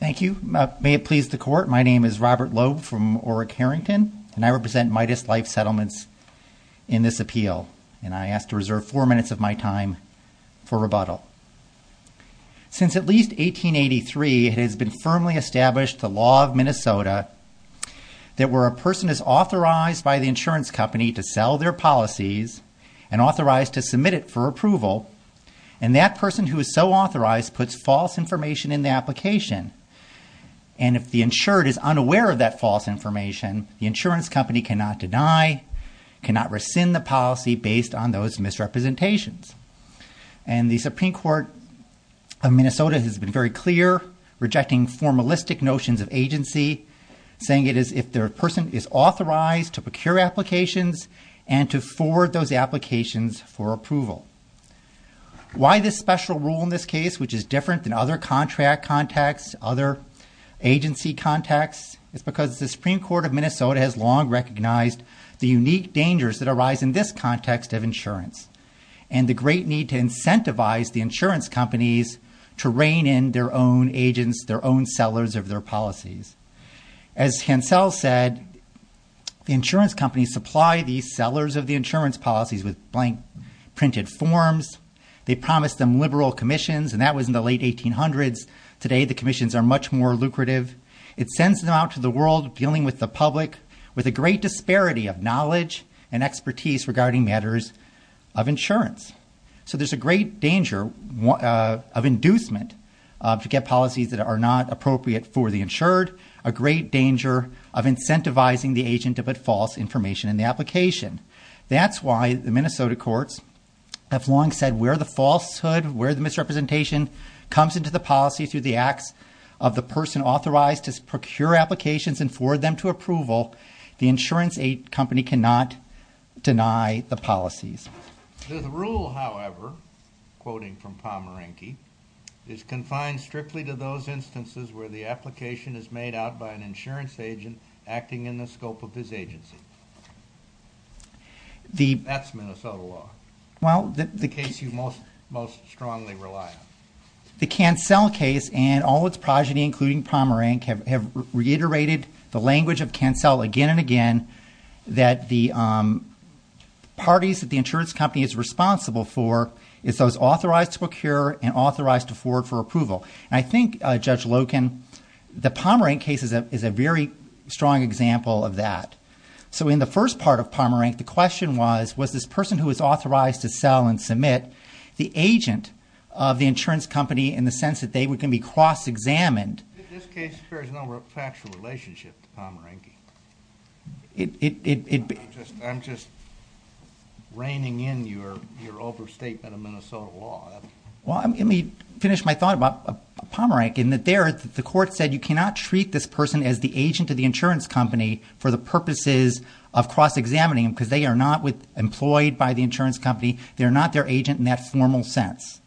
Thank you. May it please the court, my name is Robert Loeb from Oreck Harrington and I represent Midas Life Settlements in this appeal. And I ask to reserve four minutes of my time for rebuttal. Since at least 1883, it has been firmly established the law of Minnesota that where a person is authorized by the insurance company to sell their policies and authorized to submit it for approval, and that person who is so authorized puts false information in the application. And if the insured is unaware of that false information, the insurance company cannot deny, cannot rescind the policy based on those misrepresentations. And the Supreme Court of Minnesota has been very clear, rejecting formalistic notions of agency, saying it is if the person is authorized to procure applications and to forward those applications for approval. Why this special rule in this case, which is different than other contract contexts, other agency contexts, is because the Supreme Court of Minnesota has long recognized the unique dangers that arise in this context of insurance and the great need to incentivize the insurance companies to rein in their own agents, their own sellers of their policies. As Hansel said, the insurance companies supply the sellers of the insurance policies with blank, printed forms. They promise them liberal commissions, and that was in the late 1800s. Today the commissions are much more lucrative. It sends them out to the world dealing with the public with a great disparity of knowledge and expertise regarding matters of insurance. So there's a great danger of inducement to get policies that are not appropriate for the insured, a great danger of incentivizing the agent to put false information in the application. That's why the Minnesota courts have long said where the falsehood, where the misrepresentation comes into the policy through the acts of the person authorized to procure applications and forward them to approval, the insurance company cannot deny the policies. This rule, however, quoting from Pomeranke, is confined strictly to those instances where the application is made out by an insurance agent acting in the scope of his agency. That's Minnesota law, the case you most strongly rely on. The Cancel case and all its progeny, including Pomeranke, have reiterated the language of Cancel again and again that the parties that the insurance company is responsible for is those authorized to procure and authorized to forward for approval. I think, Judge Loken, the Pomeranke case is a very strong example of that. So in the first part of Pomeranke, the question was, was this person who was authorized to sell and submit the agent of the insurance company in the sense that they can be cross-examined? In this case, there is no factual relationship to Pomeranke. I'm just reining in your overstatement of Minnesota law. Well, let me finish my thought about Pomeranke in that there, the court said you cannot treat this person as the agent of the insurance company for the purposes of cross-examining them because they are not employed by the insurance company. They're not their agent in that formal sense.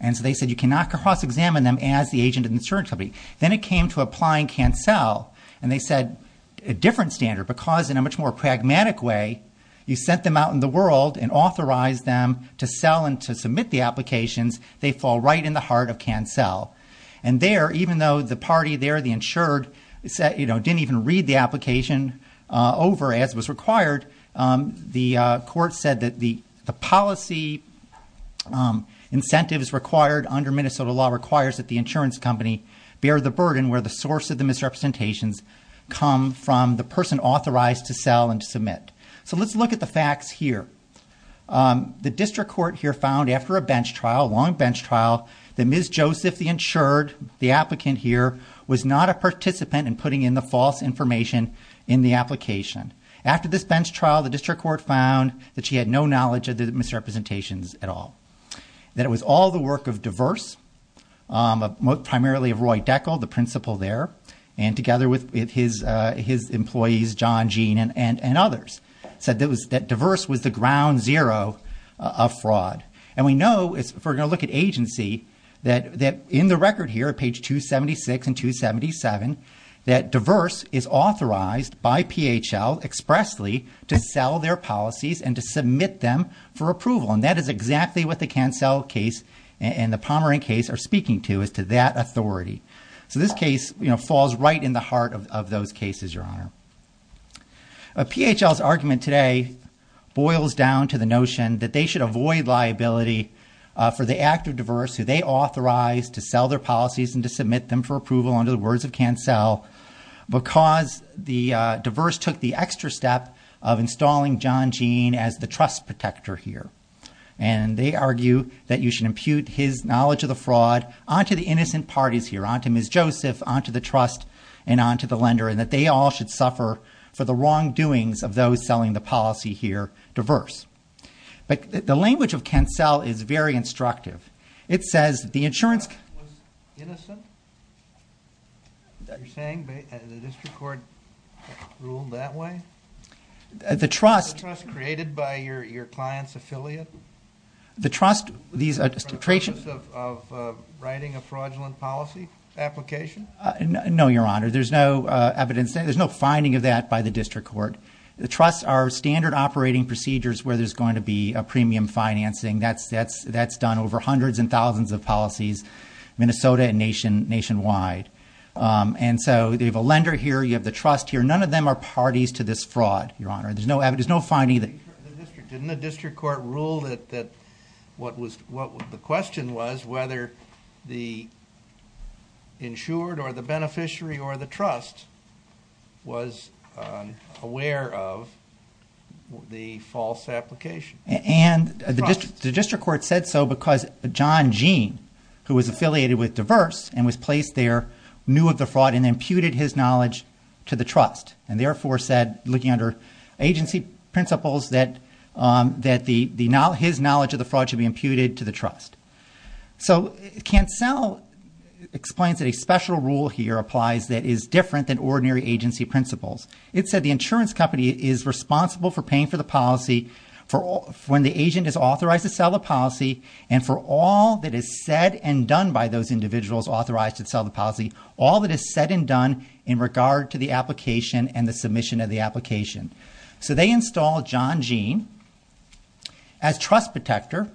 And so they said you cannot cross-examine them as the agent of the insurance company. Then it came to applying CanCell, and they said a different standard because in a much more pragmatic way, you sent them out in the world and authorized them to sell and to submit the applications, they fall right in the heart of CanCell. And there, even though the party there, the insured, didn't even read the application over as was required, the court said that the policy incentives required under Minnesota law requires that the insurance company bear the burden where the source of the misrepresentations come from the person authorized to sell and to submit. So let's look at the facts here. The district court here found after a bench trial, a long bench trial, that Ms. Joseph, the insured, the applicant here, was not a participant in putting in the false information in the application. After this bench trial, the district court found that she had no knowledge of the misrepresentations at all, that it was all the work of Diverse, primarily of Roy Deckel, the principal there, and together with his employees, John Jean and others, said that Diverse was the ground zero of fraud. And we know, if we're going to look at agency, that in the record here at page 276 and 277, that Diverse is authorized by PHL expressly to sell their policies and to submit them for approval. And that is exactly what the Cancel case and the Pomerant case are speaking to, is to that authority. So this case, you know, falls right in the heart of those cases, Your Honor. PHL's argument today boils down to the notion that they should avoid liability for the act of Diverse, who they authorized to sell their policies and to submit them for approval under the words of Cancel, because the Diverse took the extra step of installing John Jean as the trust protector here. And they argue that you should impute his knowledge of the fraud onto the innocent parties here, onto Ms. Joseph, onto the trust, and onto the lender, and that they all should suffer for the wrongdoings of those selling the policy here, Diverse. But the language of Cancel is very instructive. It says the insurance- Was innocent? You're saying the district court ruled that way? The trust- Did you say your client's affiliate? The trust- The process of writing a fraudulent policy application? No, Your Honor. There's no evidence. There's no finding of that by the district court. The trusts are standard operating procedures where there's going to be a premium financing. That's done over hundreds and thousands of policies, Minnesota and nationwide. And so you have a lender here, you have the trust here, none of them are parties to this fraud, Your Honor. There's no evidence. Didn't the district court rule that the question was whether the insured or the beneficiary or the trust was aware of the false application? And the district court said so because John Gene, who was affiliated with Diverse and was placed there, knew of the fraud and imputed his knowledge to the trust. And therefore said, looking under agency principles, that his knowledge of the fraud should be imputed to the trust. So Cancel explains that a special rule here applies that is different than ordinary agency principles. It said the insurance company is responsible for paying for the policy when the agent is authorized to sell the policy and for all that is said and done by those individuals authorized to sell the policy, all that is said and done in regard to the application and the submission of the application. So they installed John Gene as trust protector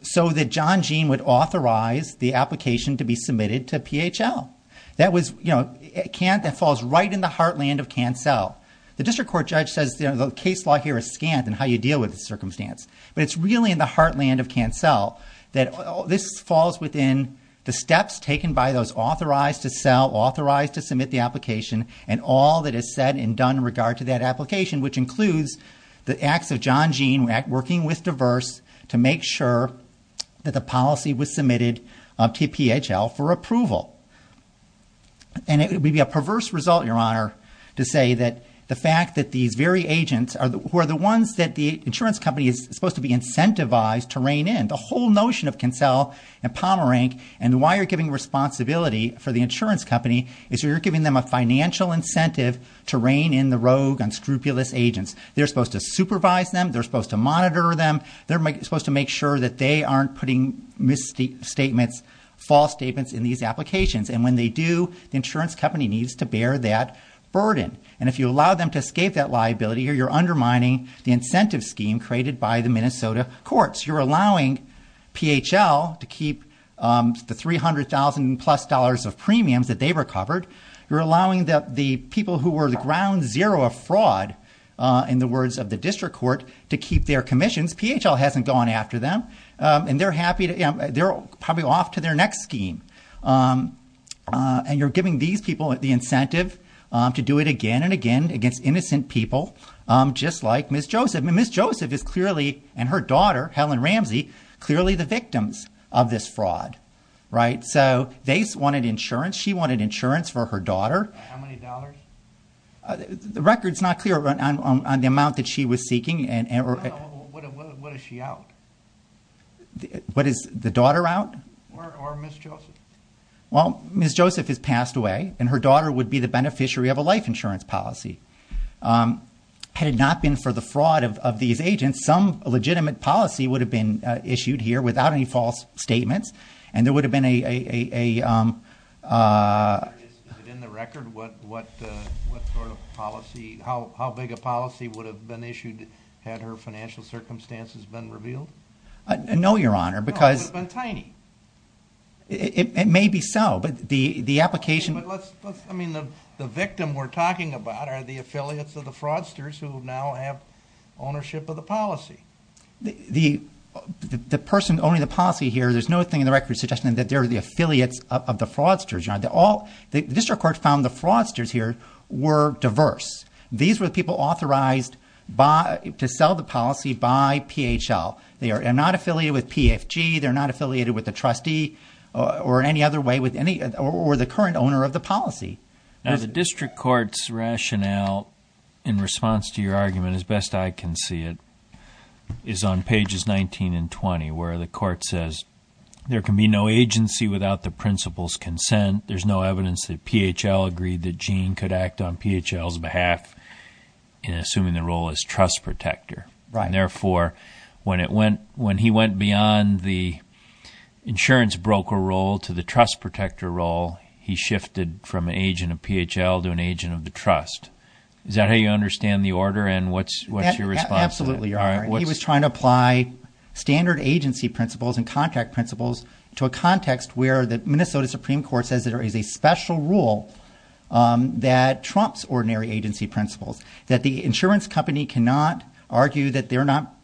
so that John Gene would authorize the application to be submitted to PHL. That falls right in the heartland of Cancel. The district court judge says the case law here is scant in how you deal with the circumstance. But it's really in the heartland of Cancel that this falls within the steps taken by those authorized to sell, authorized to submit the application, and all that is said and done in regard to that application, which includes the acts of John Gene working with Diverse to make sure that the policy was submitted to PHL for approval. And it would be a perverse result, Your Honor, to say that the fact that these very agents who are the ones that the insurance company is supposed to be incentivized to rein in, the whole notion of Cancel and Pomerank and why you're giving responsibility for the insurance company is you're giving them a financial incentive to rein in the rogue, unscrupulous agents. They're supposed to supervise them. They're supposed to monitor them. They're supposed to make sure that they aren't putting misstatements, false statements in these applications. And when they do, the insurance company needs to bear that burden. And if you allow them to escape that liability, you're undermining the incentive scheme created by the Minnesota courts. You're allowing PHL to keep the $300,000-plus of premiums that they recovered. You're allowing the people who were the ground zero of fraud, in the words of the district court, to keep their commissions. PHL hasn't gone after them, and they're happy to, you know, they're probably off to their next scheme. And you're giving these people the incentive to do it again and again against innocent people just like Ms. Joseph. And Ms. Joseph is clearly, and her daughter, Helen Ramsey, clearly the victims of this fraud, right? So they wanted insurance. She wanted insurance for her daughter. How many dollars? The record's not clear on the amount that she was seeking. What is she out? What is the daughter out? Or Ms. Joseph? Well, Ms. Joseph has passed away, and her daughter would be the beneficiary of a life insurance policy. Had it not been for the fraud of these agents, some legitimate policy would have been issued here without any false statements, and there would have been a... Is it in the record what sort of policy, how big a policy would have been issued had her financial circumstances been revealed? No, Your Honor, because... It would have been tiny. It may be so, but the application... But let's... I mean, the victim we're talking about are the affiliates of the fraudsters who now have ownership of the policy. The person owning the policy here, there's no thing in the record suggesting that they're the affiliates of the fraudsters, Your Honor. The district court found the fraudsters here were diverse. These were the people authorized to sell the policy by PHL. They are not affiliated with PFG. They're not affiliated with the trustee, or in any other way, or the current owner of the policy. Now, the district court's rationale in response to your argument, as best I can see it, is on pages 19 and 20, where the court says there can be no agency without the principal's consent. There's no evidence that PHL agreed that Gene could act on PHL's behalf in assuming the role as trust protector. Therefore, when he went beyond the insurance broker role to the trust protector role, he shifted from an agent of PHL to an agent of the trust. Is that how you understand the order, and what's your response to that? Absolutely, Your Honor. He was trying to apply standard agency principles and contract principles to a context where the Minnesota Supreme Court says there is a special rule that trumps ordinary agency principles, that the insurance company cannot argue that they are not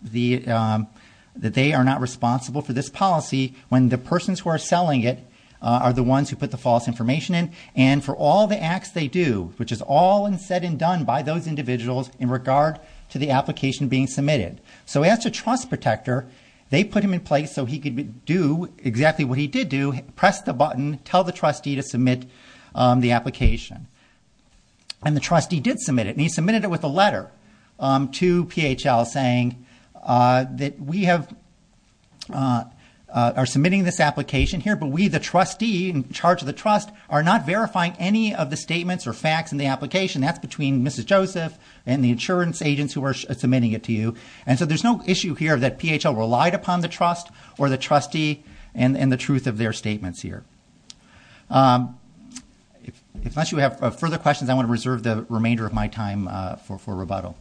responsible for this policy when the persons who are selling it are the ones who put the false information in. And for all the acts they do, which is all said and done by those individuals in regard to the application being submitted. So as a trust protector, they put him in place so he could do exactly what he did do, press the button, tell the trustee to submit the application. And the trustee did submit it, and he submitted it with a letter to PHL saying that we are submitting this application here, but we, the trustee in charge of the trust, are not verifying any of the statements or facts in the application. That's between Mrs. Joseph and the insurance agents who are submitting it to you. And so there's no issue here that PHL relied upon the trust or the trustee in the truth of their statements here. If not you have further questions, I want to reserve the remainder of my time for rebuttal.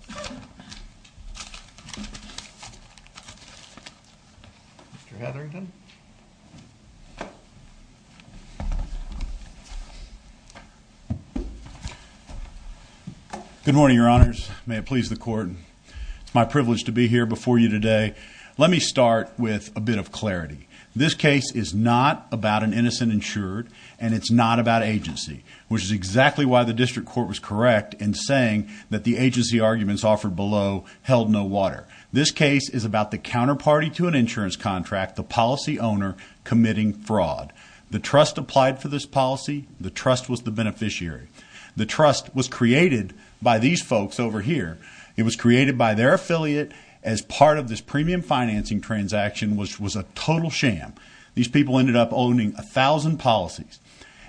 Mr. Hetherington. Good morning, your honors. May it please the court. It's my privilege to be here before you today. Let me start with a bit of clarity. This case is not about an innocent insured, and it's not about agency, which is exactly why the district court was correct in saying that the agency arguments offered below held no water. This case is about the counterparty to an insurance contract, the policy owner committing fraud. The trust applied for this policy. The trust was the beneficiary. The trust was created by these folks over here. It was created by their affiliate as part of this premium financing transaction, which was a total sham. These people ended up owning a thousand policies.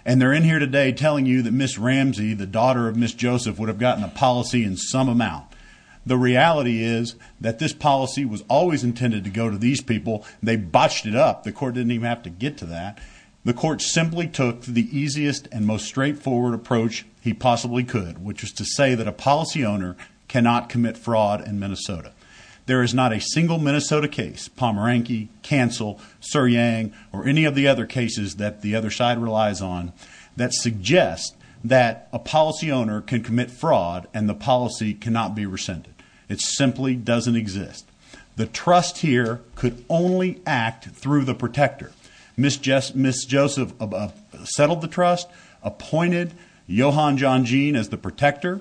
And they're in here today telling you that Miss Ramsey, the daughter of Miss Joseph, would have gotten a policy in some amount. The reality is that this policy was always intended to go to these people. They botched it up. The court didn't even have to get to that. The court simply took the easiest and most straightforward approach he possibly could, which was to say that a policy owner cannot commit fraud in Minnesota. There is not a single Minnesota case, Pomeranke, Cancel, Suryang, or any of the other cases that the other side relies on, that suggests that a policy owner can commit fraud and the policy cannot be rescinded. It simply doesn't exist. The trust here could only act through the protector. Miss Joseph settled the trust, appointed Johan John Jean as the protector.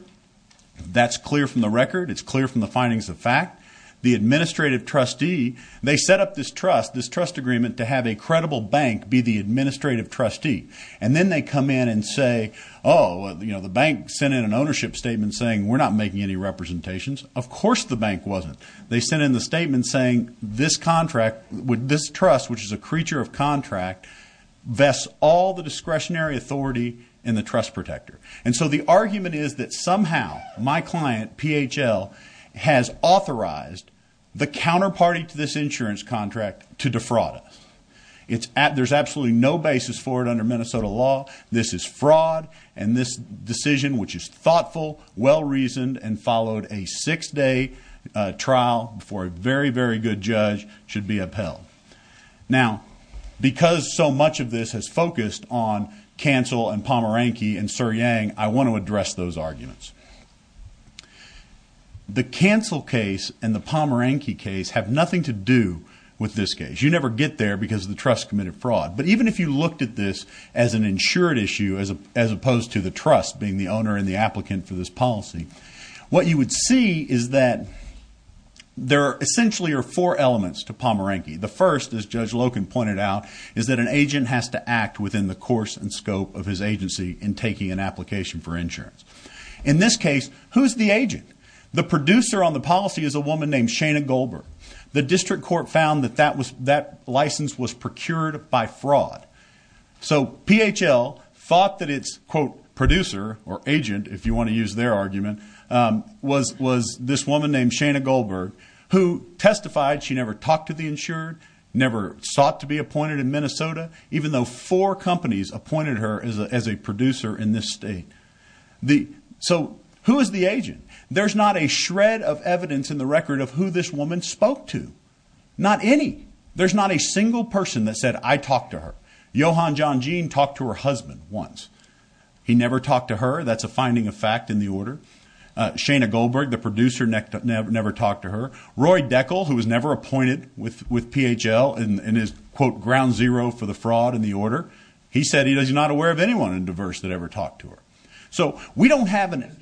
That's clear from the record. It's clear from the findings of fact. The administrative trustee, they set up this trust, this trust agreement, to have a credible bank be the administrative trustee. And then they come in and say, oh, the bank sent in an ownership statement saying we're not making any representations. Of course the bank wasn't. They sent in the statement saying this contract, this trust, which is a creature of contract, vests all the discretionary authority in the trust protector. And so the argument is that somehow my client, PHL, has authorized the counterparty to this insurance contract to defraud us. There's absolutely no basis for it under Minnesota law. This is fraud. And this decision, which is thoughtful, well-reasoned, and followed a six-day trial before a very, very good judge, should be upheld. Now, because so much of this has focused on Cancel and Pomeranke and Sir Yang, I want to address those arguments. The Cancel case and the Pomeranke case have nothing to do with this case. You never get there because the trust committed fraud. But even if you looked at this as an insured issue as opposed to the trust being the owner and the applicant for this policy, what you would see is that there essentially are four elements to this. The first, as Judge Loken pointed out, is that an agent has to act within the course and scope of his agency in taking an application for insurance. In this case, who's the agent? The producer on the policy is a woman named Shana Goldberg. The district court found that that license was procured by fraud. So PHL thought that its, quote, producer or agent, if you want to use their argument, was this woman named Shana Goldberg who testified she never talked to the insured, never sought to be appointed in Minnesota, even though four companies appointed her as a producer in this state. So who is the agent? There's not a shred of evidence in the record of who this woman spoke to. Not any. There's not a single person that said, I talked to her. Johan John Jean talked to her husband once. He never talked to her. That's a finding of fact in the order. Shana Goldberg, the producer, never talked to her. Roy Deckel, who was never appointed with PHL and is, quote, ground zero for the fraud in the order. He said he was not aware of anyone in Diverse that ever talked to her. So we don't have an agent.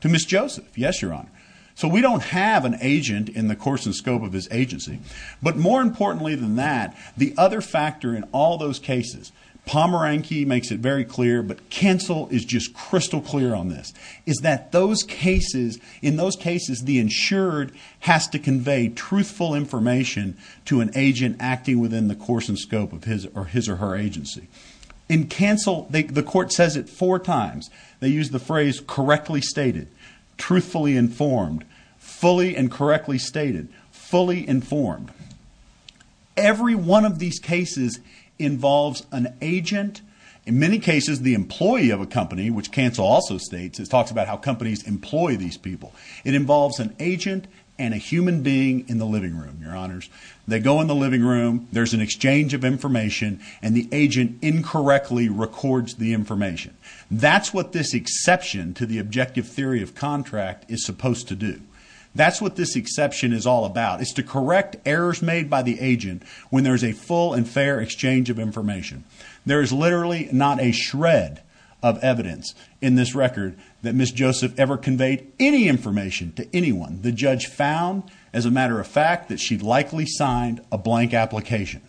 To Ms. Joseph. Yes, Your Honor. So we don't have an agent in the course and scope of his agency. But more importantly than that, the other factor in all those cases, Pomeranke makes it very clear, but Cancel is just crystal clear on this, is that those cases, in those cases, the insured has to convey truthful information to an agent acting within the course and scope of his or her agency. In Cancel, the court says it four times. They use the phrase correctly stated, truthfully informed, fully and correctly stated, fully informed. Every one of these cases involves an agent. In many cases, the employee of a company, which Cancel also states, it talks about how companies employ these people. It involves an agent and a human being in the living room, Your Honors. They go in the living room. There's an exchange of information, and the agent incorrectly records the information. That's what this exception to the objective theory of contract is supposed to do. That's what this exception is all about, is to correct errors made by the agent when there's a full and fair exchange of information. There is literally not a shred of evidence in this record that Ms. Joseph ever conveyed any information to anyone. The judge found, as a matter of fact, that she likely signed a blank application.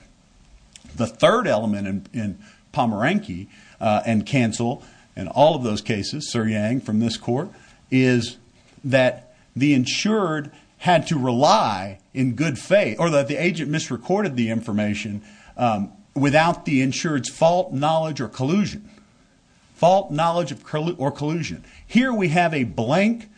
The third element in Pomeranke and Cancel and all of those cases, Sir Yang from this court, is that the insured had to rely in good faith, or that the agent misrecorded the information without the insured's fault, knowledge, or collusion. Fault, knowledge, or collusion. Here we have a blank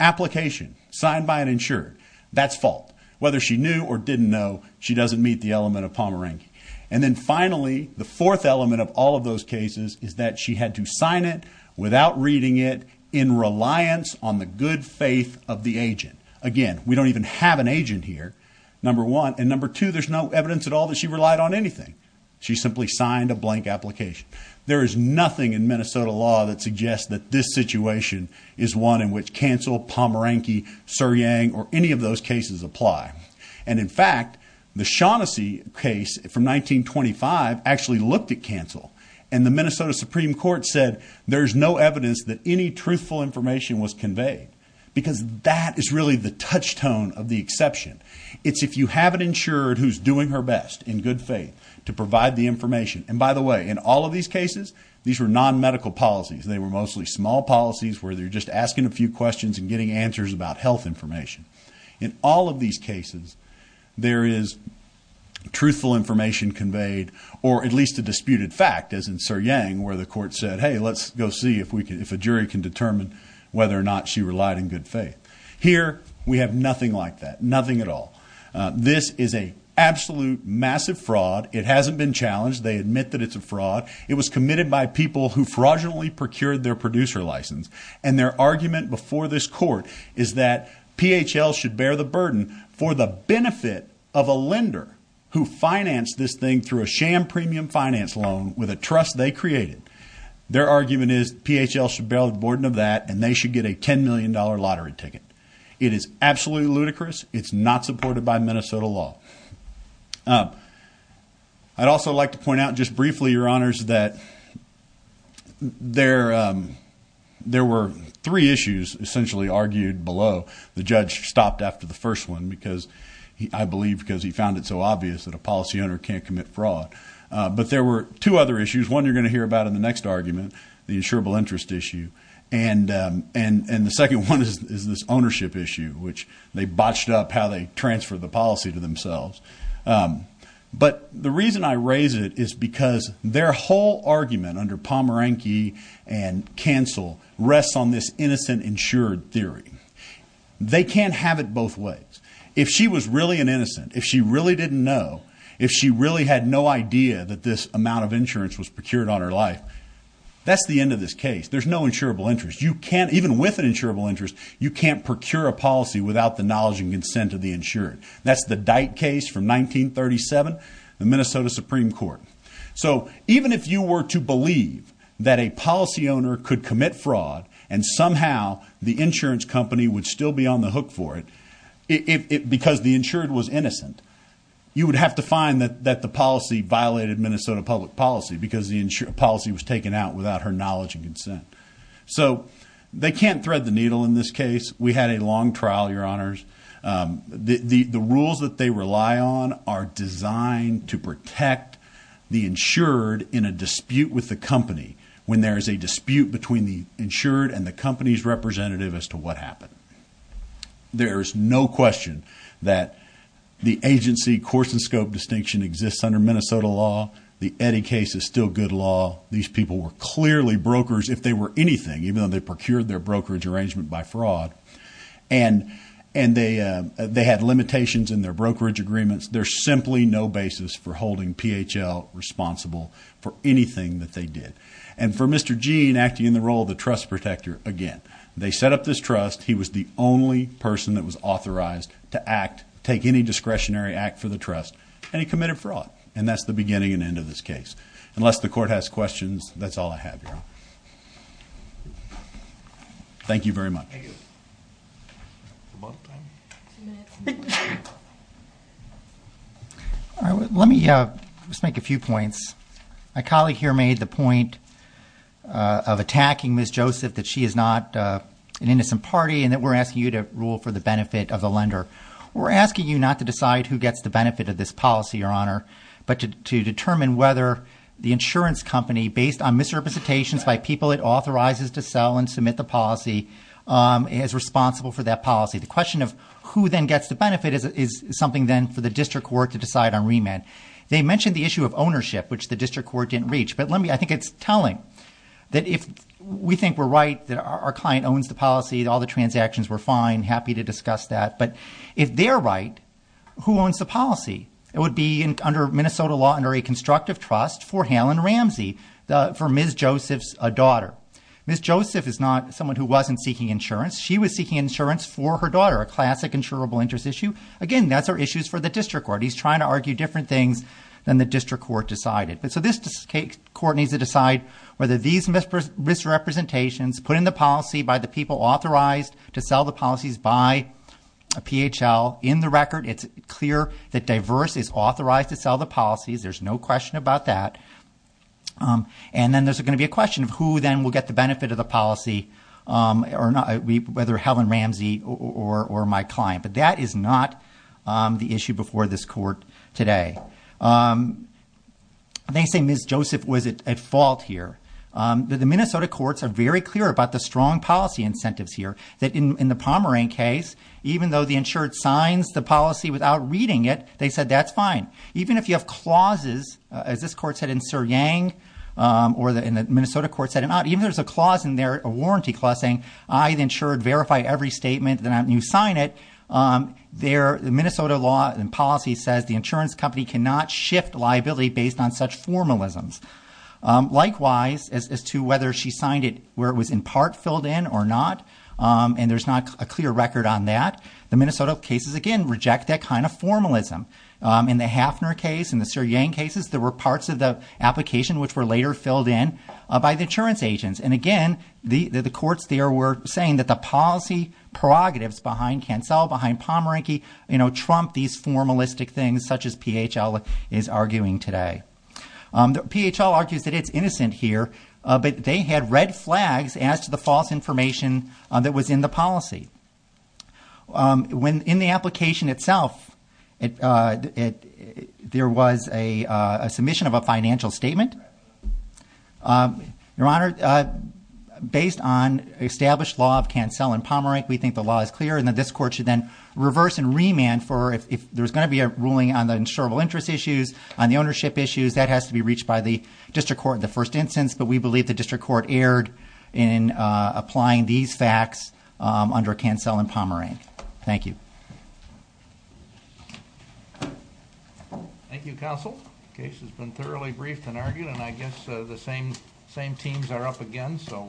application signed by an insured. That's fault. Whether she knew or didn't know, she doesn't meet the element of Pomeranke. And then finally, the fourth element of all of those cases, is that she had to sign it without reading it in reliance on the good faith of the agent. Again, we don't even have an agent here, number one. And number two, there's no evidence at all that she relied on anything. She simply signed a blank application. There is nothing in Minnesota law that suggests that this situation is one in which Cancel, Pomeranke, Sir Yang, or any of those cases apply. And in fact, the Shaughnessy case from 1925 actually looked at Cancel. And the Minnesota Supreme Court said there's no evidence that any truthful information was conveyed. Because that is really the touchstone of the exception. It's if you have an insured who's doing her best in good faith to provide the information. And by the way, in all of these cases, these were non-medical policies. They were mostly small policies where they're just asking a few questions and getting answers about health information. In all of these cases, there is truthful information conveyed, or at least a disputed fact, as in Sir Yang, where the court said, hey, let's go see if a jury can determine whether or not she relied in good faith. Here, we have nothing like that, nothing at all. This is an absolute massive fraud. It hasn't been challenged. They admit that it's a fraud. It was committed by people who fraudulently procured their producer license. And their argument before this court is that PHL should bear the burden for the benefit of a lender who financed this thing through a sham premium finance loan with a trust they created. Their argument is PHL should bear the burden of that, and they should get a $10 million lottery ticket. It is absolutely ludicrous. It's not supported by Minnesota law. I'd also like to point out just briefly, Your Honors, that there were three issues essentially argued below. The judge stopped after the first one, I believe because he found it so obvious that a policy owner can't commit fraud. But there were two other issues. There's one you're going to hear about in the next argument, the insurable interest issue. And the second one is this ownership issue, which they botched up how they transferred the policy to themselves. But the reason I raise it is because their whole argument under Pomeranke and Cancel rests on this innocent insured theory. They can't have it both ways. If she was really an innocent, if she really didn't know, if she really had no idea that this amount of insurance was procured on her life, that's the end of this case. There's no insurable interest. You can't, even with an insurable interest, you can't procure a policy without the knowledge and consent of the insured. That's the Dyke case from 1937, the Minnesota Supreme Court. So even if you were to believe that a policy owner could commit fraud, and somehow the insurance company would still be on the hook for it because the insured was innocent, you would have to find that the policy violated Minnesota public policy because the policy was taken out without her knowledge and consent. So they can't thread the needle in this case. We had a long trial, Your Honors. The rules that they rely on are designed to protect the insured in a dispute with the company when there is a dispute between the insured and the company's representative as to what happened. There is no question that the agency course and scope distinction exists under Minnesota law. The Eddy case is still good law. These people were clearly brokers if they were anything, even though they procured their brokerage arrangement by fraud. And they had limitations in their brokerage agreements. There's simply no basis for holding PHL responsible for anything that they did. And for Mr. Gene acting in the role of the trust protector, again, they set up this trust. He was the only person that was authorized to act, take any discretionary act for the trust, and he committed fraud. And that's the beginning and end of this case. Unless the court has questions, that's all I have, Your Honor. Thank you very much. Let me just make a few points. My colleague here made the point of attacking Ms. Joseph that she is not an innocent party and that we're asking you to rule for the benefit of the lender. We're asking you not to decide who gets the benefit of this policy, Your Honor, but to determine whether the insurance company, based on misrepresentations by people it authorizes to sell and submit the policy, is responsible for that policy. The question of who then gets the benefit is something then for the district court to decide on remand. They mentioned the issue of ownership, which the district court didn't reach, but I think it's telling that if we think we're right that our client owns the policy, all the transactions, we're fine, happy to discuss that. But if they're right, who owns the policy? It would be, under Minnesota law, under a constructive trust for Helen Ramsey, for Ms. Joseph's daughter. Ms. Joseph is not someone who wasn't seeking insurance. She was seeking insurance for her daughter, a classic insurable interest issue. Again, that's our issues for the district court. He's trying to argue different things than the district court decided. So this court needs to decide whether these misrepresentations put in the policy by the people authorized to sell the policies by a PHL. In the record, it's clear that Diverse is authorized to sell the policies. There's no question about that. And then there's going to be a question of who then will get the benefit of the policy, whether Helen Ramsey or my client. But that is not the issue before this court today. They say Ms. Joseph was at fault here. The Minnesota courts are very clear about the strong policy incentives here, that in the Pomeroy case, even though the insured signs the policy without reading it, they said that's fine. Even if you have clauses, as this court said in Sir Yang, or the Minnesota court said, even if there's a clause in there, a warranty clause saying I, the insured, verify every statement that you sign it, the Minnesota law and policy says the insurance company cannot shift liability based on such formalisms. Likewise, as to whether she signed it where it was in part filled in or not, and there's not a clear record on that, the Minnesota cases, again, reject that kind of formalism. In the Hafner case, in the Sir Yang cases, there were parts of the application which were later filled in by the insurance agents. And again, the courts there were saying that the policy prerogatives behind Cancel, behind Pomeranke, you know, trump these formalistic things such as PHL is arguing today. PHL argues that it's innocent here, but they had red flags as to the false information that was in the policy. In the application itself, there was a submission of a financial statement. Your Honor, based on established law of Cancel and Pomeranke, we think the law is clear and that this court should then reverse and remand for if there's going to be a ruling on the insurable interest issues, on the ownership issues, that has to be reached by the district court in the first instance. But we believe the district court erred in applying these facts under Cancel and Pomeranke. Thank you. Thank you, Counsel. The case has been thoroughly briefed and argued, and I guess the same teams are up again, so.